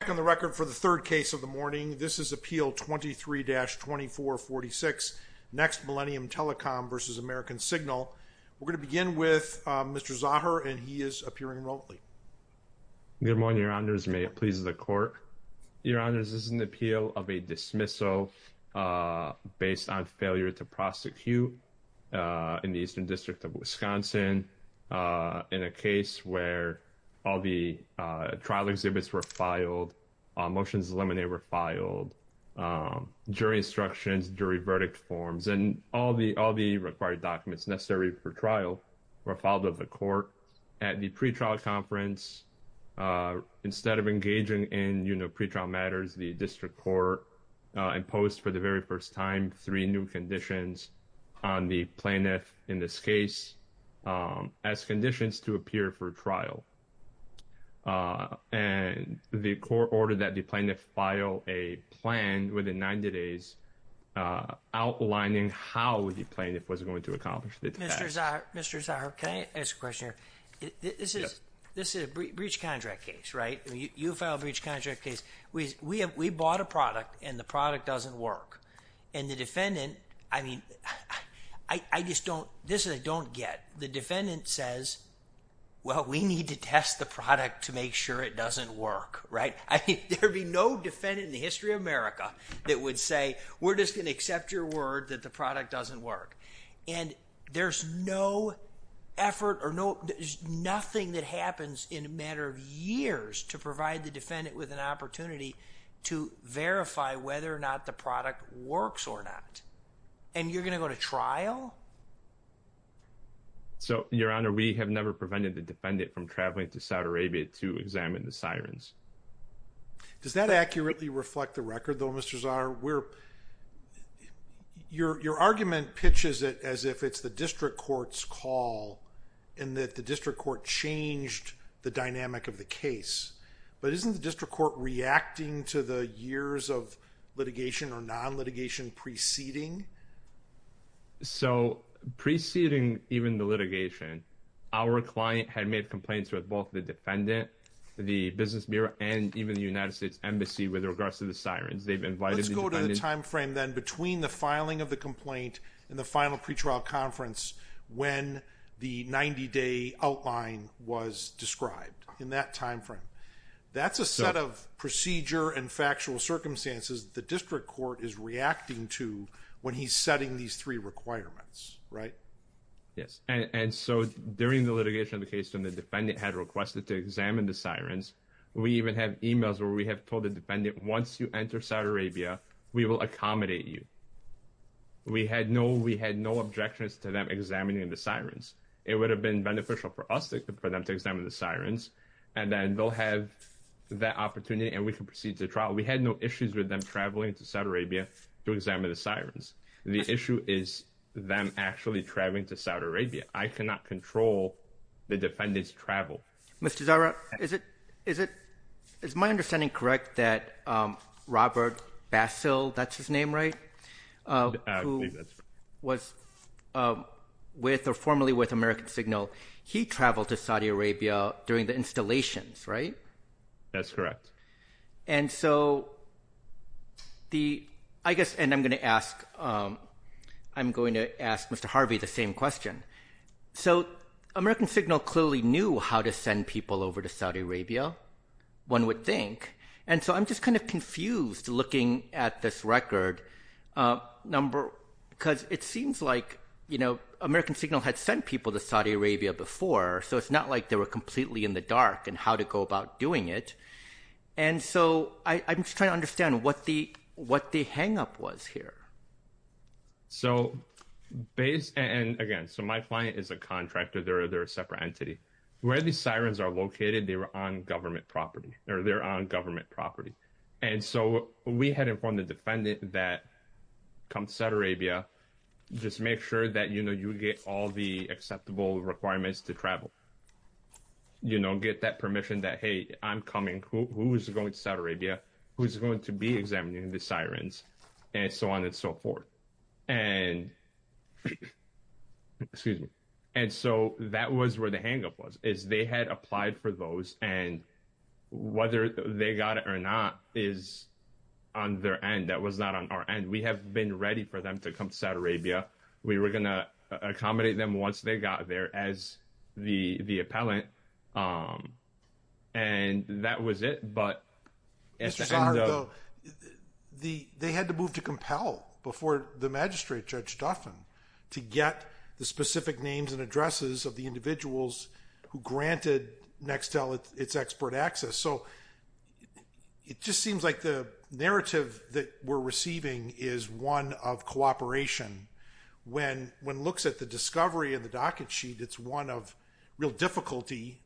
Back on the record for the third case of the morning. This is Appeal 23-2446, Next Millennium Telecom v. American Signal. We're going to begin with Mr. Zahar, and he is appearing remotely. Good morning, Your Honors. May it please the Court? Your Honors, this is an appeal of a dismissal based on failure to prosecute in the Eastern Motions eliminated were filed during instructions, during verdict forms, and all the required documents necessary for trial were filed with the Court at the pretrial conference. Instead of engaging in, you know, pretrial matters, the District Court imposed for the very first time three new conditions on the plaintiff in this case as conditions to appear for trial. And the Court ordered that the plaintiff file a plan within 90 days outlining how the plaintiff was going to accomplish the task. Mr. Zahar, can I ask a question here? This is a breach contract case, right? You filed a product and the product doesn't work. And the defendant, I mean, I just don't... this I don't get. The defendant says, well, we need to test the product to make sure it doesn't work, right? I mean, there'd be no defendant in the history of America that would say we're just going to accept your word that the product doesn't work. And there's no effort or no... there's nothing that happens in a matter of years to provide the defendant with an opportunity to verify whether or not the product works or not. And you're going to go to trial? So Your Honor, we have never prevented the defendant from traveling to Saudi Arabia to examine the sirens. Does that accurately reflect the record, though, Mr. Zahar? We're... your argument pitches it as if it's the District Court's call and that the District Court changed the dynamic of the case. But isn't the District Court reacting to the years of litigation or non-litigation preceding? So preceding even the litigation, our client had made complaints with both the defendant, the Business Bureau, and even the United States Embassy with regards to the sirens. They've invited the defendant... Let's go to the timeframe then between the filing of the complaint and the final pretrial conference when the 90-day outline was described in that timeframe. That's a set of procedure and factual circumstances the District Court is reacting to when he's setting these three requirements, right? Yes. And so during the litigation of the case when the defendant had requested to examine the sirens, we even have emails where we have told the defendant, once you enter Saudi Arabia, we will accommodate you. We had no objections to them examining the sirens. It would have been beneficial for us for them to examine the sirens and then they'll have that opportunity and we can proceed to trial. We had no issues with them traveling to Saudi Arabia to examine the sirens. The issue is them actually traveling to Saudi Arabia. I cannot control the defendant's travel. Mr. Zahra, is my understanding correct that Robert Bassil, that's his name, right, who was with or formerly with American Signal, he traveled to Saudi Arabia during the installations, right? That's correct. And so the... I guess, and I'm going to ask Mr. Harvey the same question. So American Signal had sent people over to Saudi Arabia, one would think, and so I'm just kind of confused looking at this record number because it seems like, you know, American Signal had sent people to Saudi Arabia before, so it's not like they were completely in the dark in how to go about doing it. And so I'm just trying to understand what the hang-up was here. So, and again, so my client is a contractor, they're a separate entity. Where the sirens are located, they're on government property. And so we had informed the defendant that come to Saudi Arabia, just make sure that, you know, you get all the acceptable requirements to travel. You know, get that permission that, hey, I'm coming, who's going to Saudi Arabia, who's going to be examining the sirens, and so on and so forth. And so that was where the hang-up was, is they had applied for those and whether they got it or not is on their end. That was not on our end. We have been ready for them to come to Saudi Arabia. We were going to accommodate them once they got there as the appellant. And that was it. But Mr. Sahr, they had to move to compel before the magistrate, Judge Duffin, to get the specific names and addresses of the individuals who granted Nextel its export access. So it just seems like the narrative that we're receiving is one of cooperation. When one looks at the discovery in the docket sheet, it's one of real difficulty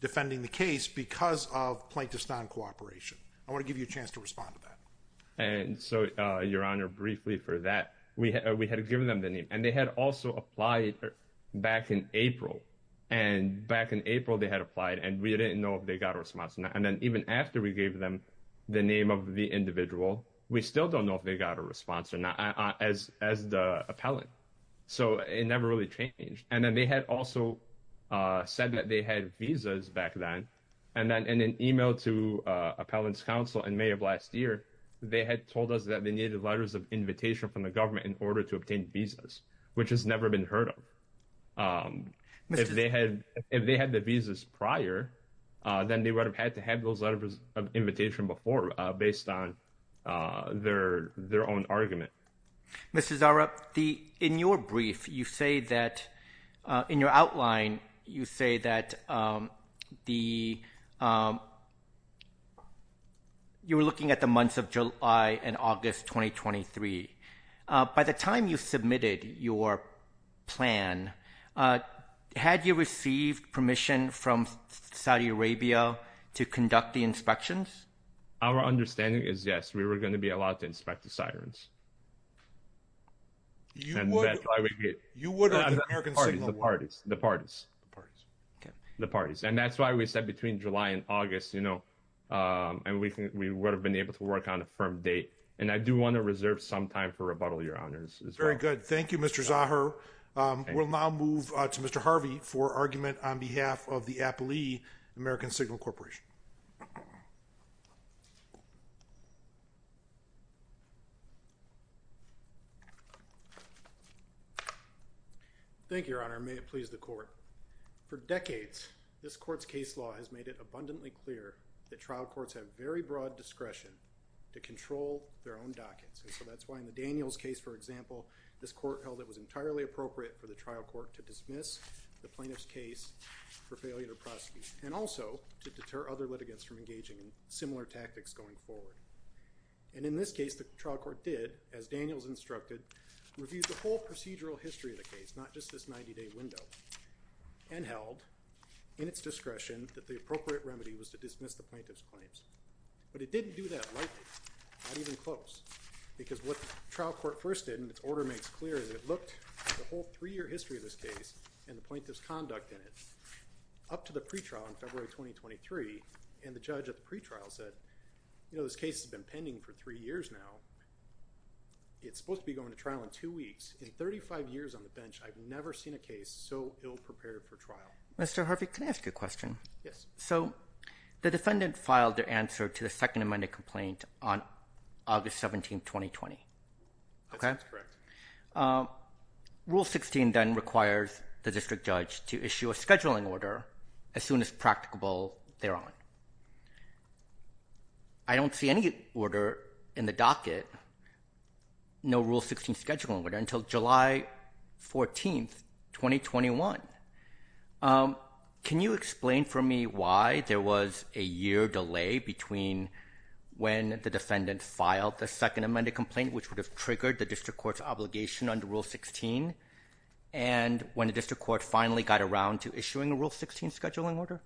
defending the case because of plaintiff's non cooperation. I want to give you a chance to respond to that. And so, Your Honor, briefly for that, we had we had given them the name and they had also applied back in April. And back in April, they had applied and we didn't know if they got a response. And then even after we gave them the name of the individual, we still don't know if they got a response or not as as the appellant. So it never really changed. And then they had also said that they had visas back then. And then in an email to Appellant's Counsel in May of last year, they had told us that they needed letters of invitation from the government in order to obtain visas, which has never been heard of. If they had if they had the visas prior, then they would have had to have those letters of invitation before based on their their own argument. Mr. Zara, the in your brief, you say that in your outline, you say that the. You were looking at the months of July and August 2023, by the time you submitted your plan, had you received permission from Saudi Arabia to conduct the inspections? Our understanding is, yes, we were going to be allowed to inspect the sirens. And that's why we get you what are the parties, the parties, the parties, the parties. And that's why we said between July and August, you know, and we think we would have been able to work on a firm date. And I do want to reserve some time for rebuttal. Your honors is very good. Thank you, Mr. Zaha. We'll now move to Mr. Harvey for argument on behalf of the Appalachian American Signal Corporation. Thank you, your honor, may it please the court for decades, this court's case law has made it abundantly clear that trial courts have very broad discretion to control their own dockets. And so that's why in the Daniels case, for example, this court held it was entirely appropriate for the trial court to dismiss the plaintiff's case for failure to prosecute and also to deter other litigants from engaging in similar tactics going forward. And in this case, the trial court did, as Daniels instructed, reviewed the whole procedural history of the case, not just this 90 day window and held in its discretion that the appropriate remedy was to dismiss the plaintiff's claims. But it didn't do that lightly, not even close, because what trial court first did in its order makes clear that it looked the whole three year history of this case and the plaintiff's conduct in it up to the point where the case has been pending for three years now. It's supposed to be going to trial in two weeks. In 35 years on the bench, I've never seen a case so ill prepared for trial. Mr. Harvey, can I ask you a question? Yes. So the defendant filed their answer to the Second Amendment complaint on August 17, 2020. That's correct. Okay. Rule 16 then requires the district judge to issue a scheduling order as soon as practicable thereon. I don't see any order in the docket, no Rule 16 scheduling order, until July 14, 2021. Can you explain for me why there was a year delay between when the defendant filed the Second Amendment complaint, which would have triggered the district court's obligation under Rule 16, and when the district court finally got around to issuing a Rule 16 scheduling order?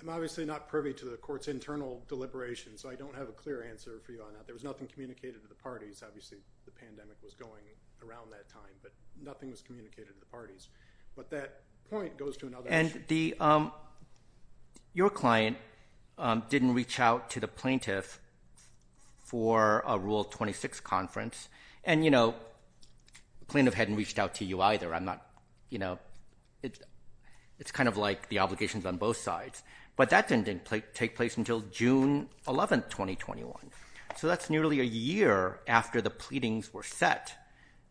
I'm obviously not privy to the court's internal deliberations, so I don't have a clear answer for you on that. There was nothing communicated to the parties. Obviously, the pandemic was going around that time, but nothing was communicated to the parties. But that point goes to another issue. And your client didn't reach out to the plaintiff for a Rule 26 conference. And the plaintiff hadn't reached out to you either. It's kind of like the obligations on both sides. But that didn't take place until June 11, 2021. So that's nearly a year after the pleadings were set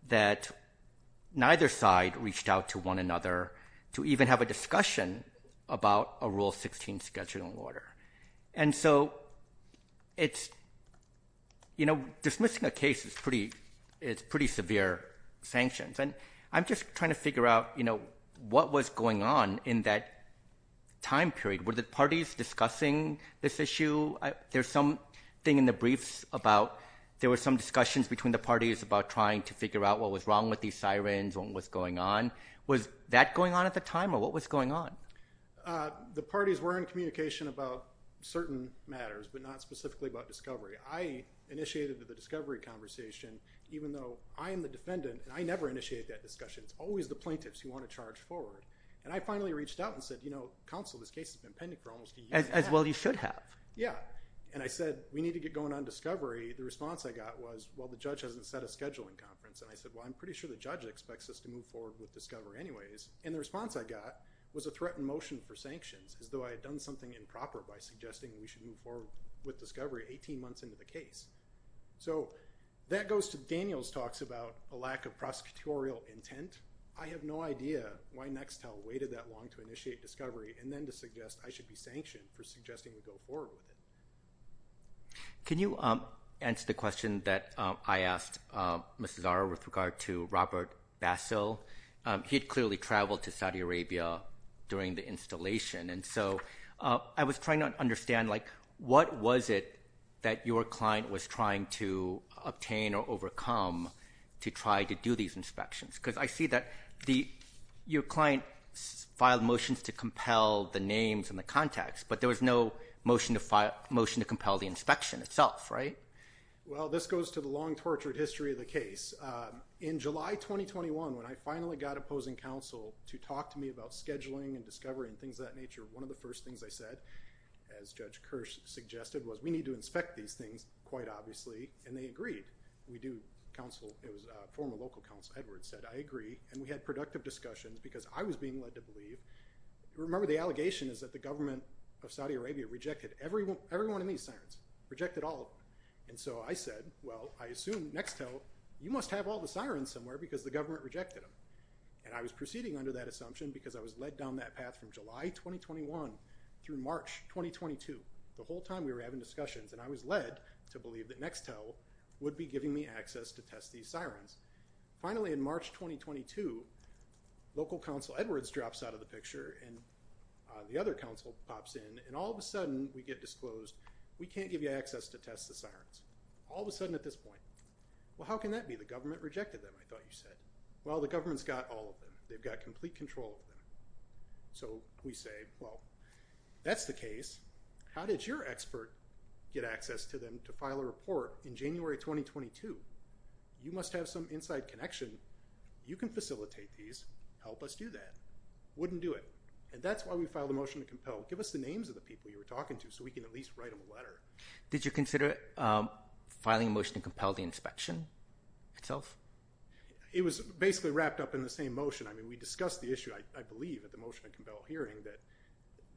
that neither side reached out to one another to even have a discussion about a Rule 16 scheduling order. And so, you know, dismissing a case is pretty severe sanctions. And I'm just trying to figure out, you know, what was going on in that time period. Were the parties discussing this issue? There's something in the briefs about there were some discussions between the parties about trying to figure out what was wrong with these sirens and what's going on. Was that going on at the time, or what was going on? The parties were in communication about certain matters, but not specifically about discovery. I initiated the discovery conversation, even though I am the defendant, and I never initiate that discussion. It's always the plaintiffs who want to charge forward. And I finally reached out and said, you know, counsel, this case has been pending for almost a year. As well you should have. Yeah. And I said, we need to get going on discovery. The response I got was, well, the judge expects us to move forward with discovery anyways. And the response I got was a threatened motion for sanctions, as though I had done something improper by suggesting we should move forward with discovery 18 months into the case. So that goes to Daniel's talks about a lack of prosecutorial intent. I have no idea why Nextel waited that long to initiate discovery and then to suggest I should be sanctioned for suggesting we go forward with it. Can you answer the question that I asked Mrs. Zara with regard to Robert Bassel? He had clearly traveled to Saudi Arabia during the installation. And so I was trying to understand like, what was it that your client was trying to obtain or overcome to try to do these inspections? Because I see that your client filed motions to compel the names and the contacts, but there was no motion to file a motion to compel the inspection itself, right? Well, this goes to the long tortured history of the case. In July 2021, when I finally got opposing counsel to talk to me about scheduling and discovery and things of that nature, one of the first things I said, as Judge Kirsch suggested, was we need to inspect these things quite obviously. And they agreed. We do counsel. It was a former local counsel, Edward, said I agree. And we had productive discussions because I was being led to believe. Remember the allegation is that the government of Saudi Arabia rejected everyone in these sirens, rejected all of them. And so I said, well, I assume Nextel, you must have all the sirens somewhere because the government rejected them. And I was proceeding under that assumption because I was led down that path from July 2021 through March 2022, the whole time we were having discussions and I was led to believe that Nextel would be giving me access to test these sirens. Finally, in March 2022, local counsel Edwards drops out of the picture and the other counsel pops in and all of a sudden we get disclosed. We can't give you access to test the sirens. All of a sudden at this point, well, how can that be? The government rejected them. I thought you said, well, the government's got all of them. They've got complete control of them. So we say, well, that's the case. How did your expert get access to them to file a report in January 2022? You must have some inside connection. You can facilitate these. Help us do that. Wouldn't do it. And that's why we filed a motion to compel. Give us the names of the people you were talking to so we can at least write them a letter. Did you consider filing a motion to compel the inspection itself? It was basically wrapped up in the same motion. I mean, we discussed the issue, I believe, at the motion to compel hearing that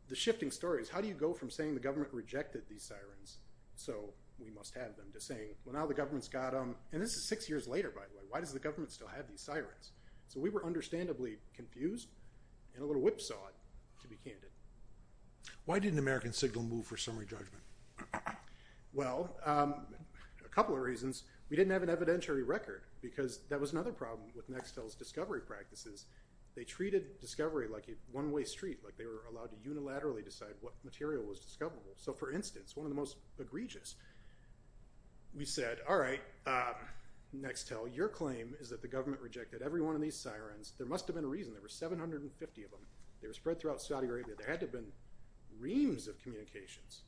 the shifting story is how do you go from saying the government rejected these sirens so we must have them to saying, well, now the government's got them. And this is six years later, by the way. Why does the government still have these sirens? So we were understandably confused and a little whipsawed to be candid. Why didn't American Signal move for summary judgment? Well, a couple of reasons. We didn't have an evidentiary record because that was another problem with Nextel's discovery practices. They treated discovery like a one-way street, like they were allowed to unilaterally decide what material was discoverable. So, for instance, one of the most egregious, we said, all right, Nextel, your claim is that the government rejected every one of these sirens. There must have been a reason. There were 750 of them. They were spread throughout Saudi Arabia. There had to have been reams of communications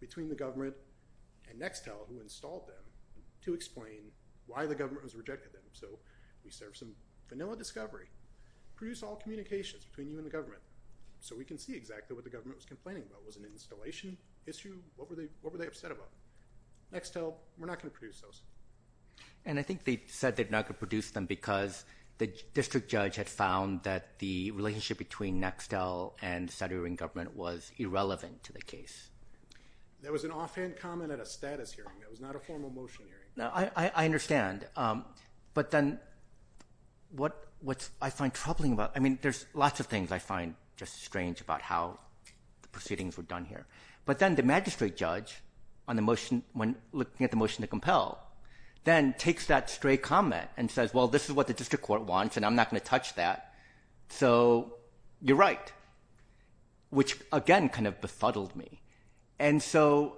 between the government and Nextel who installed them to explain why the government was rejecting them. So we served some vanilla discovery. Produce all communications between you and the government so we can see exactly what the government was complaining about. Was it an installation issue? What were they upset about? Nextel, we're not going to produce those. And I think they said they're not going to produce them because the district judge had found that the relationship between Nextel and the Saudi Arabian government was irrelevant to the case. That was an offhand comment at a status hearing. That was not a formal motion hearing. I understand. But then what I find troubling about, I mean, there's lots of things I find just strange about how the proceedings were done here. But then the magistrate judge, when looking at the motion to compel, then takes that stray comment and says, well, this is what the district court wants and I'm not going to touch that. So you're right, which again kind of befuddled me. And so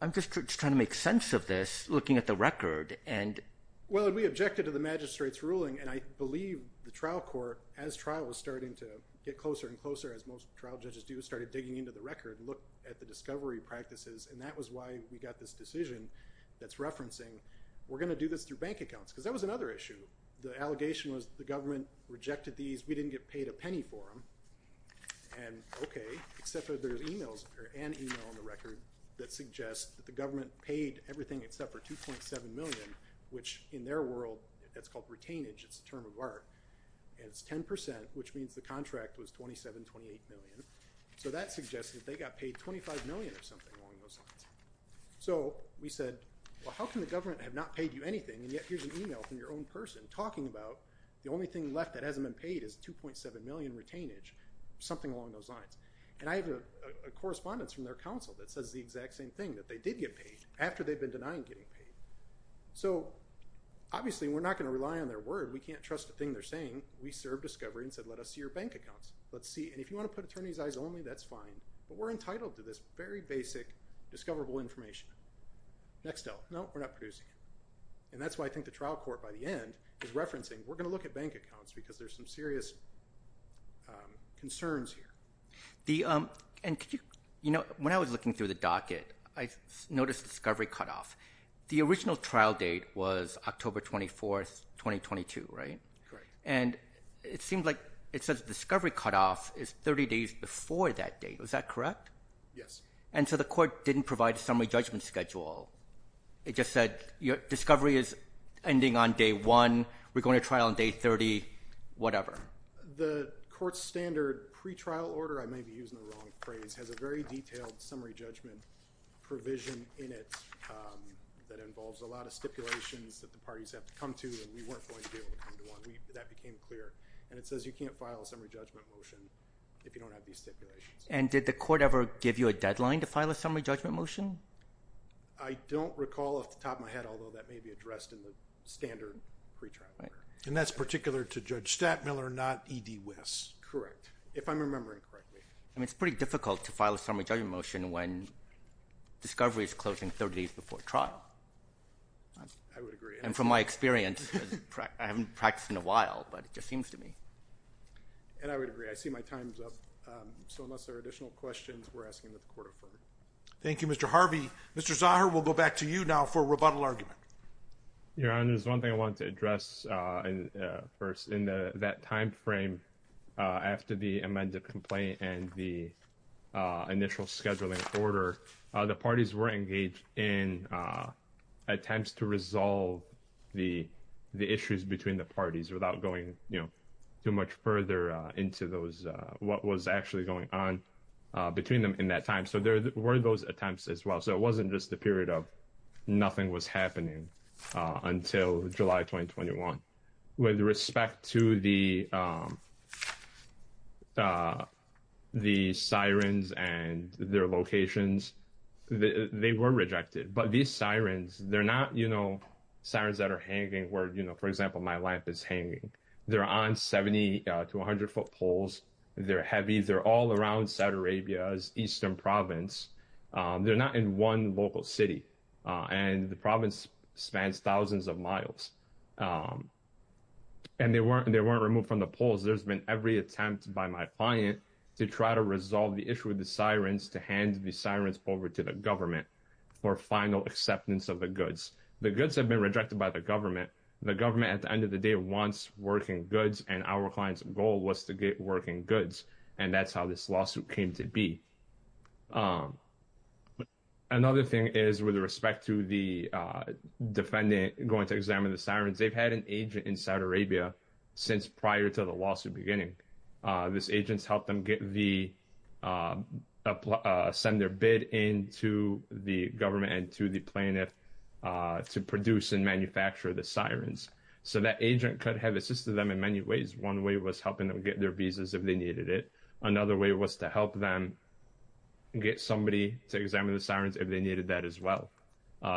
I'm just trying to make sense of this looking at the record. Well, we objected to the magistrate's ruling and I believe the trial court, as trial was starting to get closer and closer, as most trial judges do, started digging into the record and looked at the discovery practices and that was why we got this decision that's referencing we're going to do this through bank accounts. Because that was another issue. The allegation was the government rejected these. We didn't get paid a penny for them. And okay, except that there's an email in the record that suggests that the government paid everything except for $2.7 million, which in their world, that's called retainage. It's a term of art. And it's 10%, which means the contract was $27, $28 million. So that suggests that they got paid $25 million or something along those lines. So we said, well, how can the government have not paid you anything and yet here's an email from your own person talking about the only thing left that hasn't been paid is $2.7 million in retainage, something along those lines. And I have a correspondence from their counsel that says the exact same thing, that they did get paid after they'd been denying getting paid. So obviously we're not going to rely on their word. We can't trust a thing they're saying. We served discovery and said let us see your bank accounts. Let's see. And if you want to put attorney's eyes only, that's fine. But we're entitled to this very basic discoverable information. Next L. No, we're not producing it. And that's why I think the trial court by the end is referencing we're going to look at bank accounts because there's some serious concerns here. And when I was looking through the docket, I noticed discovery cutoff. The original trial date was October 24, 2022, right? Correct. And it seems like it says discovery cutoff is 30 days before that date. Is that correct? Yes. And so the court didn't provide a summary judgment schedule. It just said discovery is ending on day one. We're going to trial on day 30, whatever. The court's standard pretrial order, I may be using the wrong phrase, has a very detailed summary judgment provision in it that involves a lot of stipulations that the parties have to come to and we weren't going to be able to come to one. That became clear. And it says you can't file a summary judgment motion if you don't have these stipulations. And did the court ever give you a deadline to file a summary judgment motion? I don't recall off the top of my head, although that may be addressed in the standard pretrial order. And that's particular to Judge Stattmiller, not E.D. West. Correct. If I'm remembering correctly. I mean, it's pretty difficult to file a summary judgment motion when discovery is closing 30 days before trial. I would agree. And from my experience, I haven't practiced in a while, but it just seems to me. And I would agree. I see my time's up. So unless there are additional questions, we're asking that the court affirm. Thank you, Mr. Harvey. Mr. Zahir, we'll go back to you now for rebuttal argument. Your Honor, there's one thing I want to address first in that time frame after the amended complaint and the initial scheduling order. The parties were engaged in attempts to resolve the issues between the parties without going too much further into those what was actually going on between them in that time. So there were those attempts as well. So it wasn't just the period of nothing was happening until July 2021. With respect to the the sirens and their locations, they were rejected. But these sirens, they're not, you know, sirens that are hanging where, you know, for example, my life is hanging there on 70 to 100 foot poles. They're heavy. They're all around Saudi Arabia's eastern province. They're not in one local city. And the province spans thousands of miles. And they weren't they weren't removed from the poles. There's been every attempt by my client to try to resolve the issue with the sirens to hand the sirens over to the government for final acceptance of the goods. The goods have been rejected by the government. The government at the end of the day wants working goods. And our client's goal was to get working goods. And that's how this lawsuit came to be. Another thing is with respect to the defendant going to examine the sirens, they've had an agent in Saudi Arabia since prior to the lawsuit beginning. This agent's helped them get the send their bid into the government and to the plaintiff to produce and manufacture the sirens. So that agent could have assisted them in many ways. One way was helping them get their visas if they needed it. Another way was to help them get somebody to examine the sirens if they needed that as well.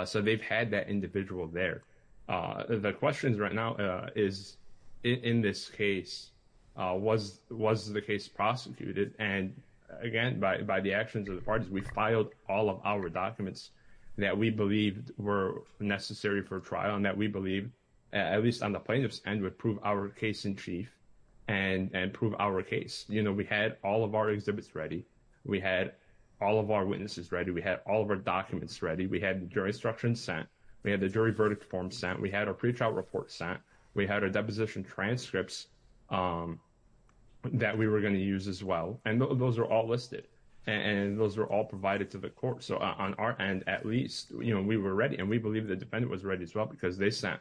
So they've had that individual there. The questions right now is in this case, was was the case prosecuted? And again, by by the actions of the parties, we filed all of our documents that we believed were necessary for trial and that we believe, at least on the plaintiff's end, would prove our case in chief and prove our case. You know, we had all of our exhibits ready. We had all of our witnesses ready. We had all of our documents ready. We had the jury instruction sent. We had the jury verdict form sent. We had our pre-trial report sent. We had our deposition transcripts that we were going to use as well. And those are all listed and those are all provided to the court. So on our end, at least we were ready and we believe the defendant was ready as they sent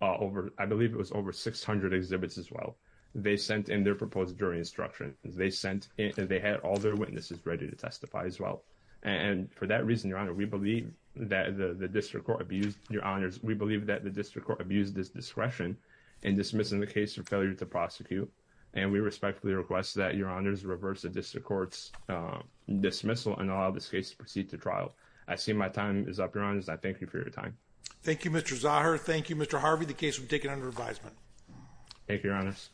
over, I believe it was over 600 exhibits as well. They sent in their proposed jury instruction. They sent in, they had all their witnesses ready to testify as well. And for that reason, Your Honor, we believe that the district court abused, Your Honors, we believe that the district court abused its discretion in dismissing the case for failure to prosecute. And we respectfully request that Your Honors reverse the district court's dismissal and allow this case to proceed to trial. I see my time is up, Your Honors. I thank you for your time. Thank you, Mr. Zahar. Thank you, Mr. Harvey. The case will be taken under advisement. Thank you, Your Honors.